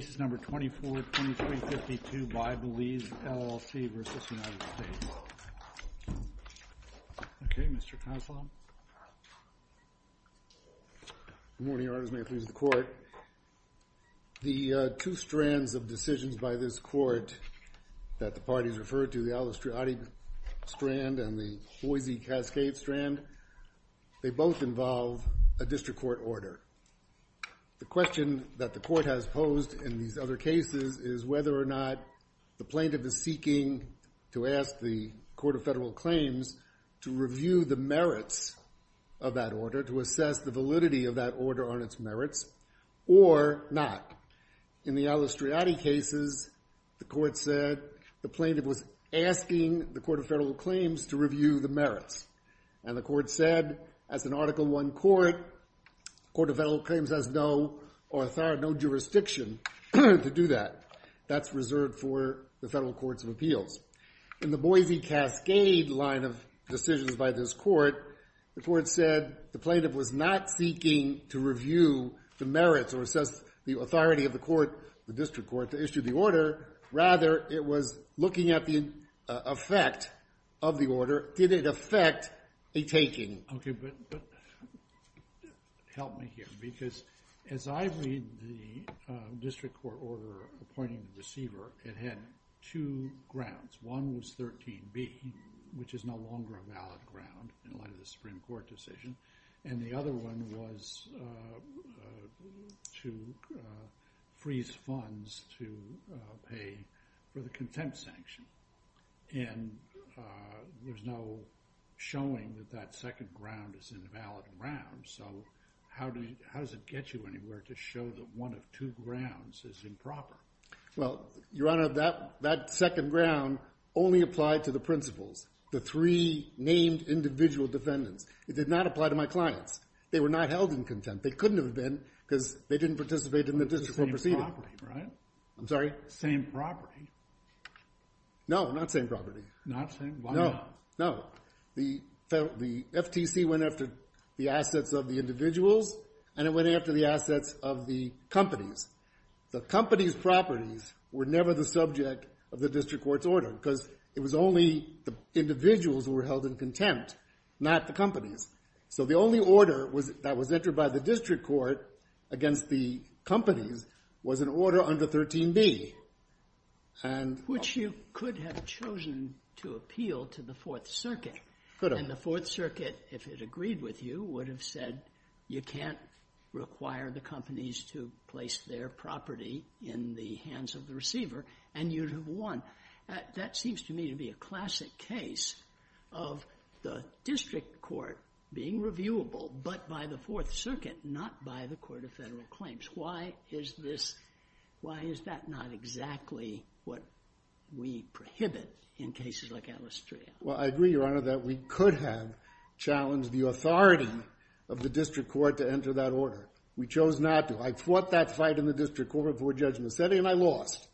Good morning, Your Honors. May it please the Court. The two strands of decisions by this Court that the parties referred to, the Al-Astriadi Strand and the Boise Cascade Strand, they both involve a district court order. The question that the Court has posed in these other cases is whether or not the plaintiff is seeking to ask the Court of Federal Claims to review the merits of that order, to assess the validity of that order on its merits, or not. In the Al-Astriadi cases, the Court said the plaintiff was asking the Court of Federal Claims to review the merits. And the Court said as an Article I Court, the Court of Federal Claims has no jurisdiction to do that. That's reserved for the federal courts of appeals. In the Boise Cascade line of decisions by this Court, the Court said the plaintiff was not seeking to review the merits or assess the authority of the court, the district court, to issue the order. Rather, it was looking at the effect of the order. Did it affect a taking? Okay, but help me here, because as I read the district court order appointing the deceiver, it had two grounds. One was 13b, which is no longer a valid ground in light of the Supreme Court decision, and the other one was to freeze funds to pay for the contempt sanction. And there's no showing that that second ground is an invalid ground. So how does it get you anywhere to show that one of two grounds is improper? Well, Your Honor, that second ground only applied to the principals, the three named individual defendants. It did not apply to my clients. They were not held in contempt. They couldn't have been because they didn't participate in the district court proceeding. It's the same property, right? I'm sorry? Same property. No, not same property. Not same? Why not? No, no. The FTC went after the assets of the individuals, and it went after the assets of the companies. The companies' properties were never the subject of the district court's order because it was only the individuals who were held in contempt, not the companies. So the only order that was entered by the district court against the companies was an order under 13b. Which you could have chosen to appeal to the Fourth Circuit. Could have. And the Fourth Circuit, if it agreed with you, would have said you can't require the companies to place their property in the hands of the receiver, and you'd have won. That seems to me to be a classic case of the district court being reviewable, but by the Fourth Circuit, not by the Court of Federal Claims. Why is this, why is that not exactly what we prohibit in cases like Alastrea? Well, I agree, Your Honor, that we could have challenged the authority of the district court to enter that order. We chose not to. I fought that fight in the district court before Judge Massetti, and I lost.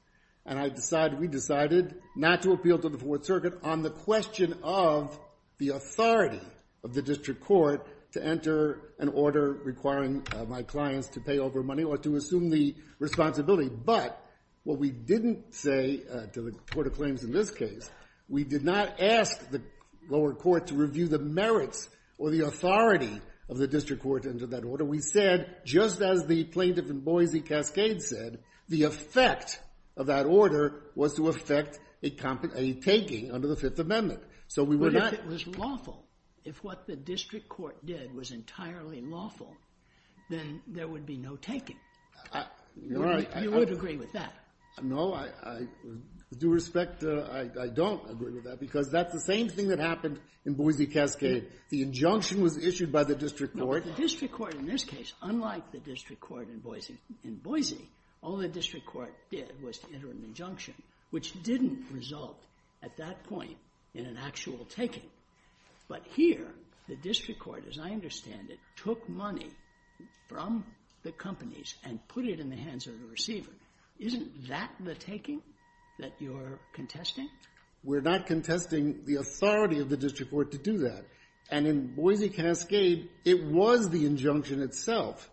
And I decided, we decided not to appeal to the Fourth Circuit on the question of the authority of the district court to enter an order requiring my clients to pay over money or to assume the responsibility. But what we didn't say to the Court of Claims in this case, we did not ask the lower court to review the merits or the authority of the district court to enter that order. We said, just as the plaintiff in Boise, Cascade, said, the effect of that order was to affect a taking under the Fifth Amendment. So we were not But if it was lawful, if what the district court did was entirely lawful, then there would be no taking. Your Honor, I You would agree with that. No, I, with due respect, I don't agree with that, because that's the same thing that happened in, in Boise, Cascade. The injunction was issued by the district court. No, but the district court in this case, unlike the district court in Boise, in Boise, all the district court did was to enter an injunction, which didn't result at that point in an actual taking. But here, the district court, as I understand it, took money from the companies and put it in the hands of the receiver. Isn't that the taking that you're contesting? We're not contesting the authority of the district court to do that. And in Boise, Cascade, it was the injunction itself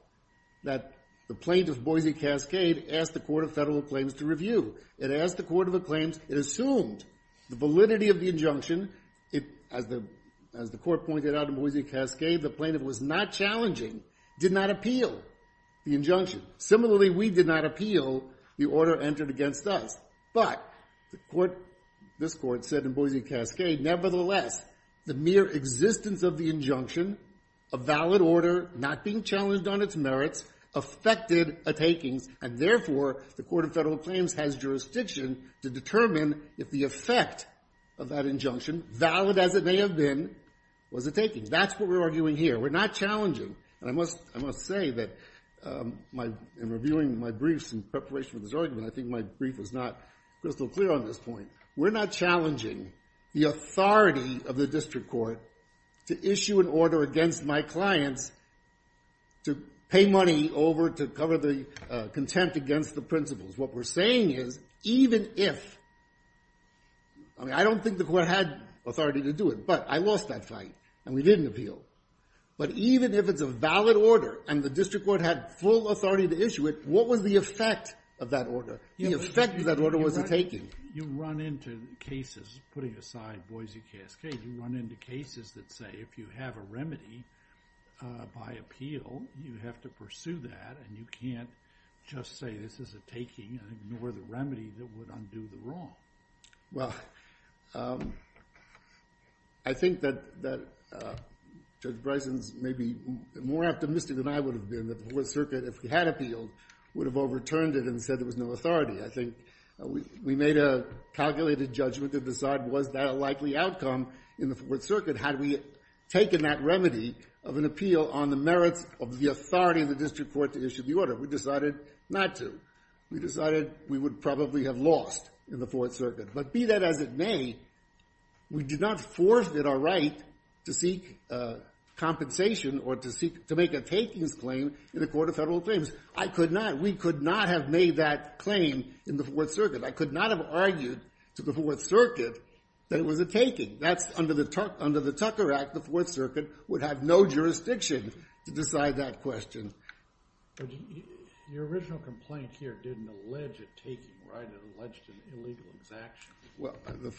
that the plaintiff, Boise, Cascade, asked the Court of Federal Claims to review. It asked the Court of Claims, it assumed the validity of the injunction. It, as the, as the court pointed out in Boise, Cascade, the plaintiff was not challenging, did not appeal the injunction. Similarly, we did not appeal the order entered against us. But the court, this court said in Boise, Cascade, nevertheless, the mere existence of the injunction, a valid order not being challenged on its merits, affected a takings. And therefore, the Court of Federal Claims has jurisdiction to determine if the effect of that injunction, valid as it may have been, was a takings. That's what we're arguing here. We're not challenging. And I must, I must say that my, in reviewing my briefs in preparation for this argument, I think my brief was not crystal clear on this point. We're not challenging the authority of the district court to issue an order against my clients to pay money over to cover the contempt against the principles. What we're saying is, even if, I mean, I don't think the court had authority to do it, but I lost that fight and we didn't appeal. But even if it's a valid order and the district court had full authority to issue it, what was the effect of that order? The effect of that order was a taking. You run into cases, putting aside Boise, Cascade, you run into cases that say if you have a remedy by appeal, you have to pursue that and you can't just say this is a taking and ignore the remedy that would undo the wrong. Well, I think that Judge Bryson's maybe more optimistic than I would have been that the Fourth Circuit, if we had appealed, would have overturned it and said there was no authority. I think we made a calculated judgment to decide was that a likely outcome in the Fourth Circuit had we taken that remedy of an appeal on the merits of the authority of the district court to issue the order. We decided not to. We decided we would probably have lost in the Fourth Circuit. But be that as it may, we did not force it our right to seek compensation or to make a takings claim in the Court of Federal Claims. I could not. We could not have made that claim in the Fourth Circuit. I could not have argued to the Fourth Circuit that it was a taking. That's under the Tucker Act. The Fourth Circuit would have no jurisdiction to decide that question. Your original complaint here didn't allege a taking, right? It alleged an illegal exaction. Well, the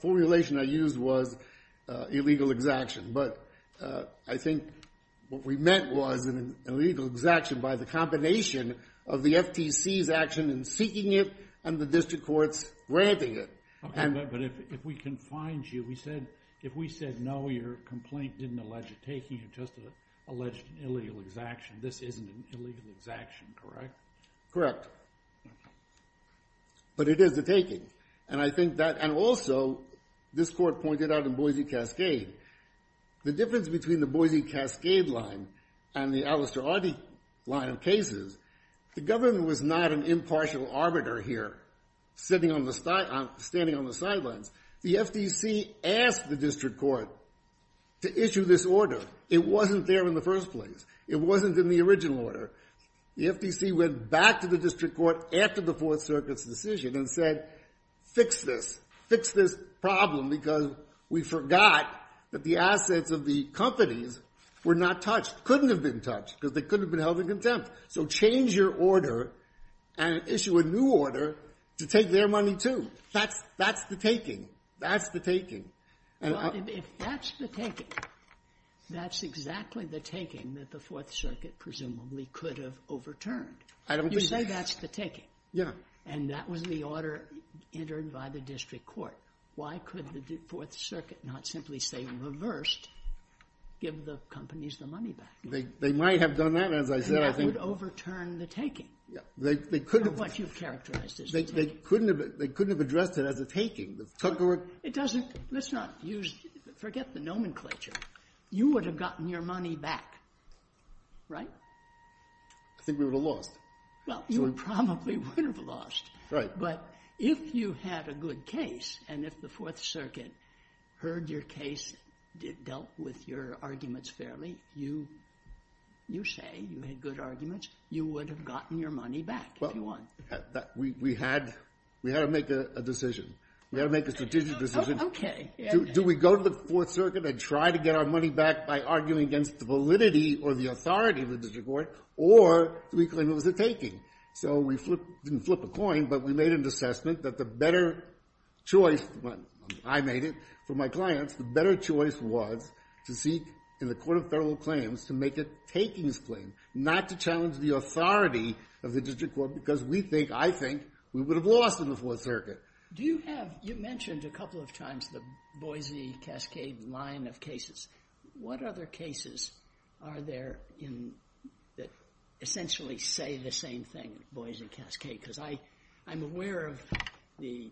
formulation I used was illegal exaction. But I think what we meant was an illegal exaction by the combination of the FTC's action in seeking it and the district courts granting it. Okay, but if we confined you, if we said no, your complaint didn't allege a taking, it just alleged an illegal exaction. This isn't an illegal exaction, correct? Correct. But it is a taking. And I think that, and also, this court pointed out in Boise Cascade, the difference between the Boise Cascade line and the Alastair Ardy line of cases, the government was not an impartial arbiter here, standing on the sidelines. The FTC went back to the district court after the Fourth Circuit's decision and said, fix this. Fix this problem, because we forgot that the assets of the companies were not touched, couldn't have been touched, because they couldn't have been held in contempt. So change your order and issue a new order to take their money, too. That's the taking. That's the taking. Well, if that's the taking, that's exactly the taking that the Fourth Circuit presumably could have overturned. You say that's the taking. Yeah. And that was the order entered by the district court. Why could the Fourth Circuit not simply say, reversed, give the companies the money back? They might have done that, as I said. That would overturn the taking. They couldn't have. What you've characterized as the taking. They couldn't have addressed it as a taking. It doesn't, let's not use, forget the nomenclature. You would have gotten your money back, right? I think we would have lost. Well, you probably would have lost. Right. But if you had a good case, and if the Fourth Circuit heard your case, dealt with your arguments fairly, you say you had good arguments, you would have gotten your money back if you won. We had to make a decision. We had to make a strategic decision. Okay. Do we go to the Fourth Circuit and try to get our money back by arguing against the validity or the authority of the district court, or do we claim it was a taking? So we didn't flip a coin, but we made an assessment that the better choice, I made it for my clients, the better choice was to seek in the Court of Federal Claims to make a takings claim, not to challenge the authority of the district court, which I think we would have lost in the Fourth Circuit. You mentioned a couple of times the Boise-Cascade line of cases. What other cases are there that essentially say the same thing, Boise-Cascade? Because I'm aware of the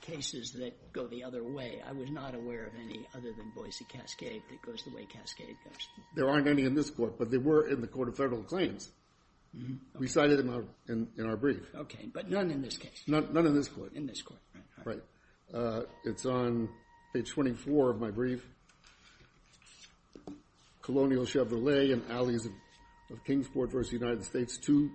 cases that go the other way. I was not aware of any other than Boise-Cascade that goes the way Cascade does. There aren't any in this court, but there were in the Court of Federal Claims. We cited them in our brief. Okay. But none in this case. None in this court. In this court. Right. It's on page 24 of my brief. Colonial Chevrolet and alleys of Kingsport v. United States, two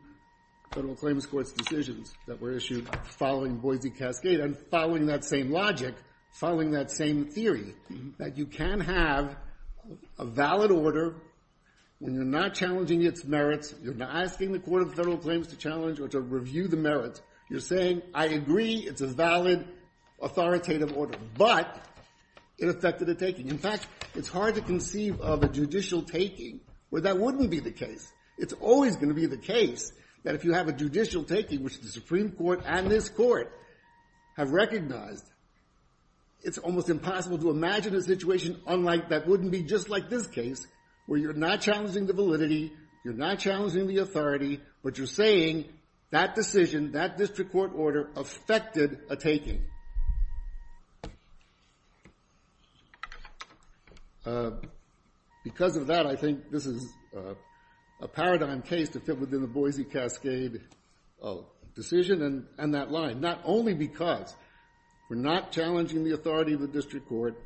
Federal Claims Courts decisions that were issued following Boise-Cascade and following that same logic, following that same theory, that you can have a valid order when you're not challenging its merits, you're not asking the Court of Federal Claims to challenge or to review the merits. You're saying I agree it's a valid authoritative order, but it affected the taking. In fact, it's hard to conceive of a judicial taking where that wouldn't be the case. It's always going to be the case that if you have a judicial taking, which the Supreme Court and this Court have recognized, it's almost impossible to imagine a situation unlike that wouldn't be just like this case where you're not challenging the validity. You're not challenging the authority, but you're saying that decision, that district court order affected a taking. Because of that, I think this is a paradigm case to fit within the Boise-Cascade decision and that line. Not only because we're not challenging the authority of the district court.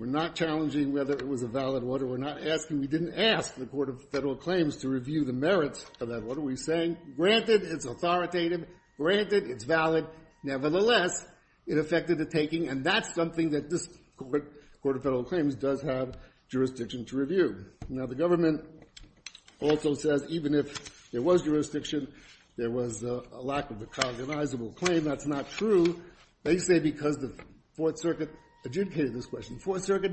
We're not challenging whether it was a valid order. We're not asking. We didn't ask the Court of Federal Claims to review the merits of that. What are we saying? Granted, it's authoritative. Granted, it's valid. Nevertheless, it affected the taking, and that's something that this Court, Court of Federal Claims, does have jurisdiction to review. Now, the government also says even if there was jurisdiction, there was a lack of a cognizable claim. That's not true. They say because the Fourth Circuit adjudicated this question. The Fourth Circuit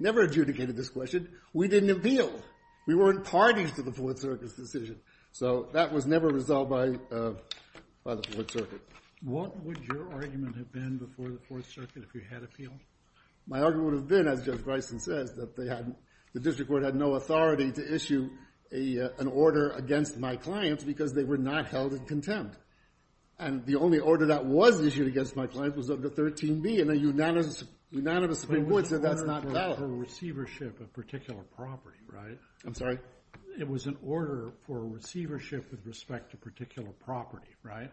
never adjudicated this question. We didn't appeal. We weren't parties to the Fourth Circuit's decision. So that was never resolved by the Fourth Circuit. What would your argument have been before the Fourth Circuit if you had appealed? My argument would have been, as Judge Bryson says, that the district court had no authority to issue an order against my clients because they were not held in contempt. And the only order that was issued against my clients was under 13B in a unanimous agreement, so that's not valid. But it was an order for receivership of particular property, right? I'm sorry? It was an order for receivership with respect to particular property, right?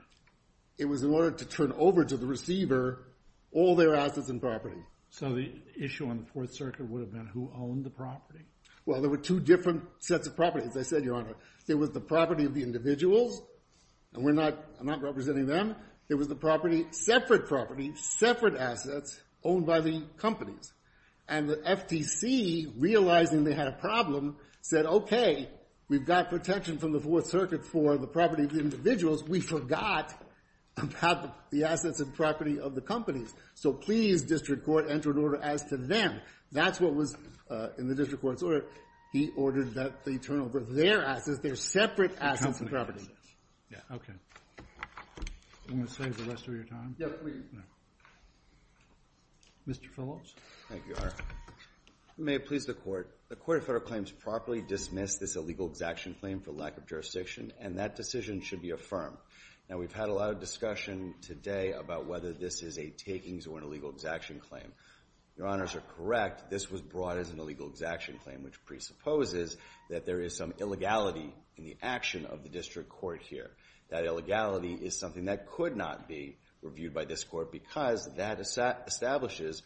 It was an order to turn over to the receiver all their assets and property. So the issue on the Fourth Circuit would have been who owned the property? Well, there were two different sets of property, as I said, Your Honor. There was the property of the individuals, and I'm not representing them. There was the property, separate property, separate assets owned by the companies. And the FTC, realizing they had a problem, said, okay, we've got protection from the Fourth Circuit for the property of the individuals. We forgot about the assets and property of the companies. So please, district court, enter an order as to them. That's what was in the district court's order. He ordered that they turn over their assets, their separate assets and properties. Okay. I'm going to save the rest of your time. Mr. Phillips. Thank you, Your Honor. May it please the Court. The Court of Federal Claims properly dismissed this illegal exaction claim for lack of jurisdiction, and that decision should be affirmed. Now, we've had a lot of discussion today about whether this is a takings or an illegal exaction claim. Your Honors are correct. This was brought as an illegal exaction claim, which presupposes that there is some illegality in the action of the district court here. That illegality is something that could not be reviewed by this court because that establishes,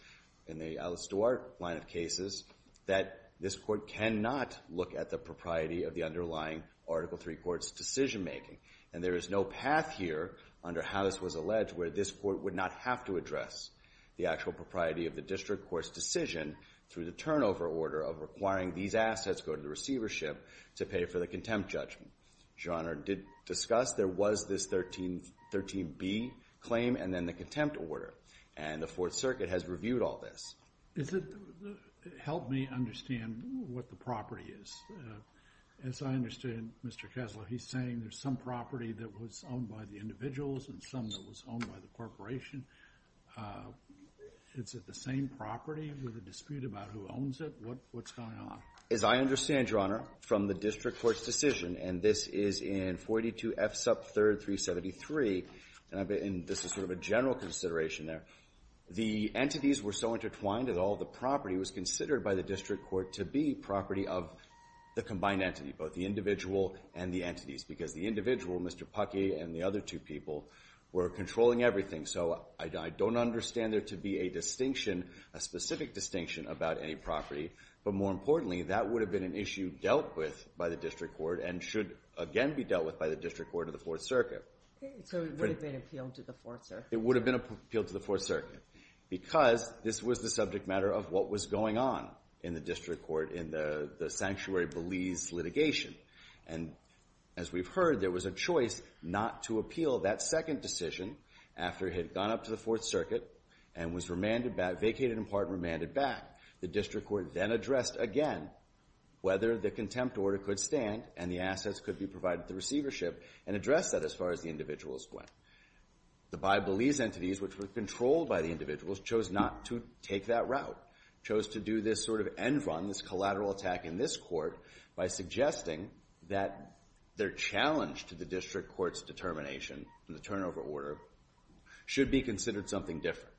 in the Alice Duarte line of cases, that this court cannot look at the propriety of the underlying Article III court's decision-making. And there is no path here, under how this was alleged, where this court would not have to address the actual propriety of the district court's decision through the turnover order of requiring these assets go to the receivership to pay for the contempt judgment. Your Honor, did discuss there was this 13B claim and then the contempt order. And the Fourth Circuit has reviewed all this. Help me understand what the property is. As I understand, Mr. Kessler, he's saying there's some property that was owned by the individuals and some that was owned by the corporation. Is it the same property with a dispute about who owns it? What's going on? As I understand, Your Honor, from the district court's decision, and this is in 42F sub 3rd, 373, and this is sort of a general consideration there, the entities were so intertwined that all the property was considered by the district court to be property of the combined entity, both the individual and the entities, because the individual, Mr. Puckey, and the other two people were controlling everything. So I don't understand there to be a distinction, a specific distinction about any property. But more importantly, that would have been an issue dealt with by the district court and should again be dealt with by the district court of the Fourth Circuit. So it would have been appealed to the Fourth Circuit? It would have been appealed to the Fourth Circuit because this was the subject matter of what was going on in the district court in the Sanctuary Belize litigation. And as we've heard, there was a choice not to appeal that second decision after it had gone up to the Fourth Circuit and was vacated in part and remanded back. The district court then addressed again whether the contempt order could stand and the assets could be provided to the receivership and addressed that as far as the individuals went. The Bi-Belize entities, which were controlled by the individuals, chose not to take that route, chose to do this sort of end-run, this collateral attack in this court by suggesting that their challenge to the district court's determination in the turnover order should be considered something different.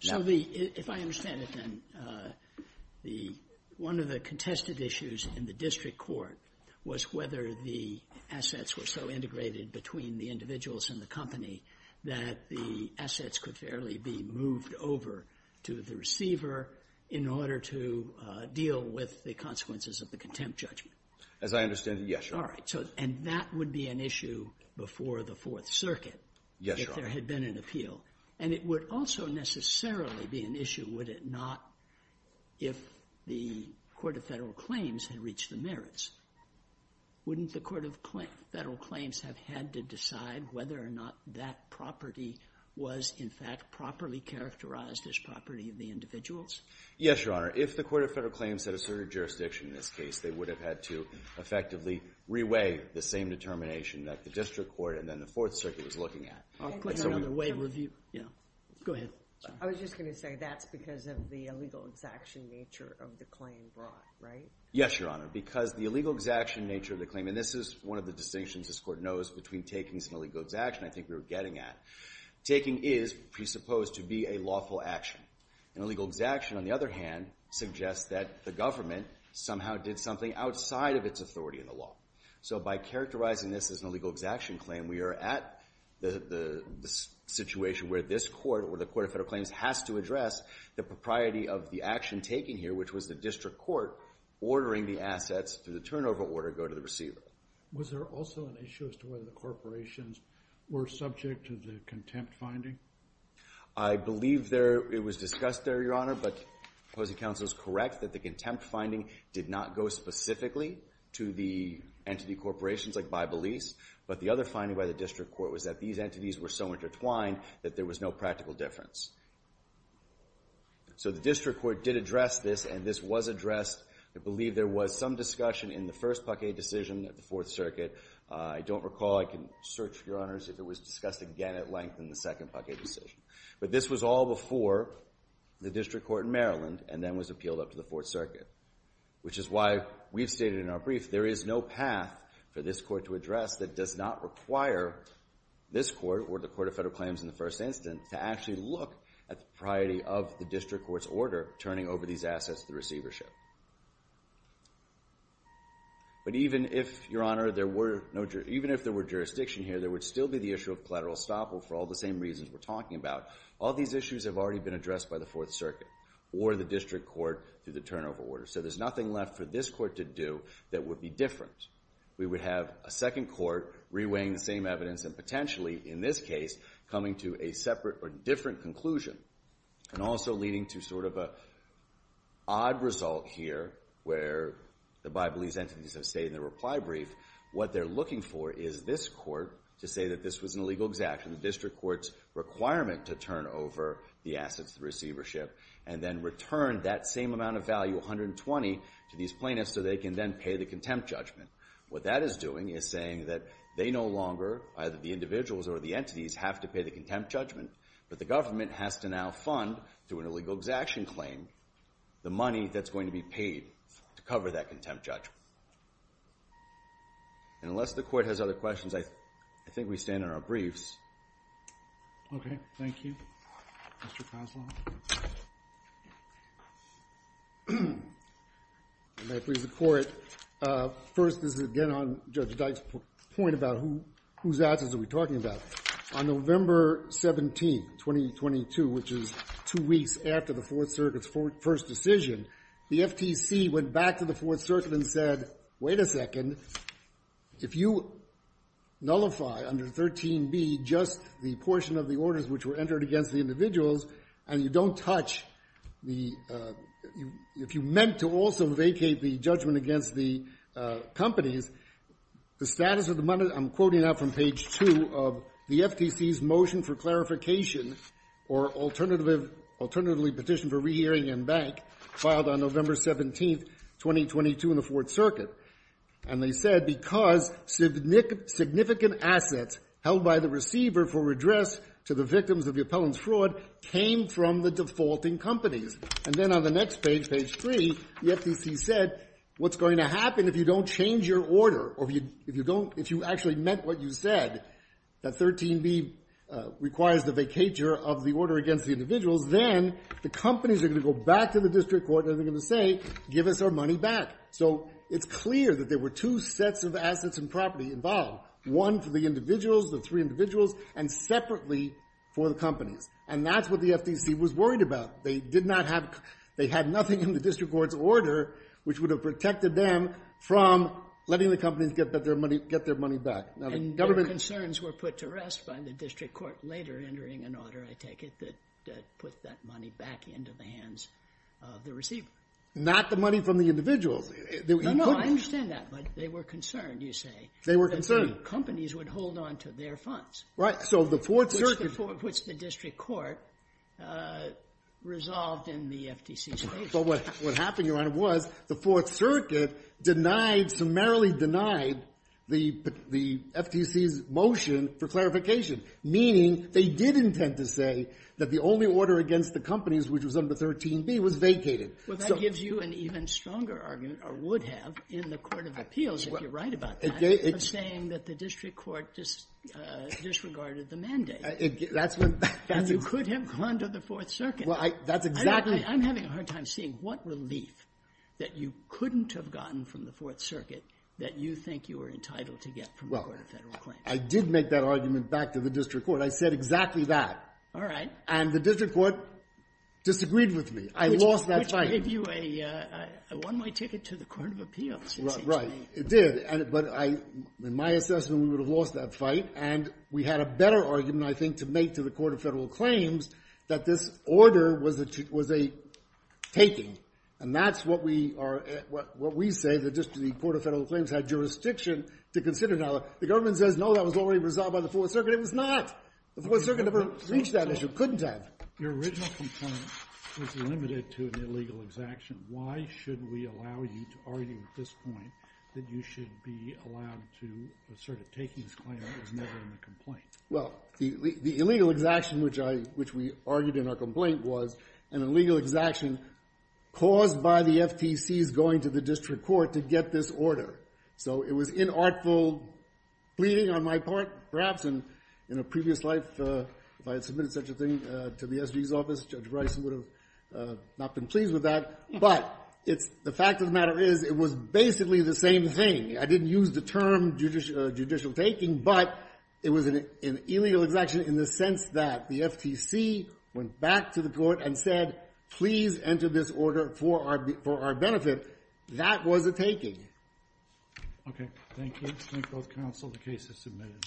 So if I understand it then, one of the contested issues in the district court was whether the assets were so integrated between the individuals and the company that the assets could fairly be moved over to the receiver in order to deal with the consequences of the contempt judgment. As I understand it, yes, Your Honor. All right, and that would be an issue before the Fourth Circuit if there had been an appeal. And it would also necessarily be an issue, would it not, if the Court of Federal Claims had reached the merits? Wouldn't the Court of Federal Claims have had to decide whether or not that property was, in fact, properly characterized as property of the individuals? Yes, Your Honor. If the Court of Federal Claims had asserted jurisdiction in this case, they would have had to effectively reweigh the same determination that the district court and then the Fourth Circuit was looking at. I'll click on another way of review. Go ahead. I was just going to say that's because of the illegal exaction nature of the claim brought, right? Yes, Your Honor. Because the illegal exaction nature of the claim, and this is one of the distinctions this court knows between takings and illegal exaction, I think we were getting at, taking is presupposed to be a lawful action. And illegal exaction, on the other hand, suggests that the government somehow did something outside of its authority in the law. So by characterizing this as an illegal exaction claim, we are at the situation where this court, or the Court of Federal Claims, has to address the propriety of the action taken here, which was the district court ordering the assets through the turnover order go to the receiver. Was there also an issue as to whether the corporations were subject to the contempt finding? I believe it was discussed there, Your Honor, but the opposing counsel is correct that the contempt finding did not go specifically to the entity corporations like Bybelese, but the other finding by the district court was that these entities were so intertwined that there was no practical difference. So the district court did address this, and this was addressed. I believe there was some discussion in the first Paquet decision at the Fourth Circuit. I don't recall. I can search, Your Honors, if it was discussed again at length in the second Paquet decision. But this was all before the district court in Maryland and then was appealed up to the Fourth Circuit, which is why we've stated in our brief there is no path for this court to address that does not require this court, or the Court of Federal Claims in the first instance, to actually look at the propriety of the district court's order turning over these assets to the receivership. But even if, Your Honor, there were no jur... Even if there were jurisdiction here, there would still be the issue of collateral estoppel for all the same reasons we're talking about. All these issues have already been addressed by the Fourth Circuit or the district court through the turnover order. So there's nothing left for this court to do that would be different. We would have a second court reweighing the same evidence and potentially, in this case, coming to a separate or different conclusion and also leading to sort of an odd result here where the Bibleese entities have stated in the reply brief what they're looking for is this court to say that this was an illegal exaction, the district court's requirement to turn over the assets to the receivership, and then return that same amount of value, 120, to these plaintiffs so they can then pay the contempt judgment. What that is doing is saying that they no longer, either the individuals or the entities, have to pay the contempt judgment, but the government has to now fund, through an illegal exaction claim, the money that's going to be paid to cover that contempt judgment. And unless the court has other questions, I think we stand on our briefs. Okay, thank you. Mr. Koslow. May it please the Court, first, this is again on Judge Dyke's point about whose assets are we talking about. On November 17, 2022, which is two weeks after the Fourth Circuit's first decision, the FTC went back to the Fourth Circuit and said, wait a second, if you nullify under 13b just the portion of the orders which were entered against the individuals, and you don't touch the, if you meant to also vacate the judgment against the companies, the status of the money, I'm quoting now from page 2, of the FTC's motion for clarification or alternatively petitioned for rehearing and bank, filed on November 17, 2022, in the Fourth Circuit. And they said because significant assets held by the receiver for redress to the victims of the appellant's fraud came from the defaulting companies. And then on the next page, page 3, the FTC said what's going to happen if you don't change your order or if you don't, if you actually meant what you said, that 13b requires the vacatur of the order against the individuals, then the companies are going to go back to the district court and they're going to say, give us our money back. So it's clear that there were two sets of assets and property involved. One for the individuals, the three individuals, and separately for the companies. And that's what the FTC was worried about. They did not have, they had nothing in the district court's order which would have protected them from letting the companies get their money back. And their concerns were put to rest by the district court later entering an order, I take it, that put that money back into the hands of the receiver. Not the money from the individuals. No, no, I understand that, but they were concerned, you say. They were concerned. That the companies would hold on to their funds. Right, so the Fourth Circuit... Which the district court resolved in the FTC's favor. But what happened, Your Honor, was the Fourth Circuit denied, summarily denied the FTC's motion for clarification, meaning they did intend to say that the only order against the companies, which was under 13b, was vacated. Well, that gives you an even stronger argument, or would have, in the Court of Appeals, if you're right about that, of saying that the district court disregarded the mandate. That's when... And you could have gone to the Fourth Circuit. Well, that's exactly... I'm having a hard time seeing what relief that you couldn't have gotten from the Fourth Circuit that you think you were entitled to get from the Court of Federal Claims. I did make that argument back to the district court. I said exactly that. All right. And the district court disagreed with me. I lost that fight. Which gave you a one-way ticket to the Court of Appeals. Right, it did. But in my assessment, we would have lost that fight. And we had a better argument, I think, to make to the Court of Federal Claims that this order was a taking. And that's what we say, that just the Court of Federal Claims had jurisdiction to consider. The government says, no, that was already resolved by the Fourth Circuit. It was not. The Fourth Circuit never reached that issue. Couldn't have. Your original complaint was limited to an illegal exaction. Why should we allow you to argue at this point that you should be allowed to assert a taking disclaimer that was never in the complaint? Well, the illegal exaction, which we argued in our complaint, was an illegal exaction caused by the FTC's going to the district court to get this order. So it was inartful pleading on my part. Perhaps in a previous life, if I had submitted such a thing to the SG's office, Judge Rice would have not been pleased with that. But the fact of the matter is, it was basically the same thing. I didn't use the term judicial taking, but it was an illegal exaction in the sense that the FTC went back to the court and said, please enter this order for our benefit. That was a taking. Thank you. Okay. Thank you. Thank both counsel. The case is submitted.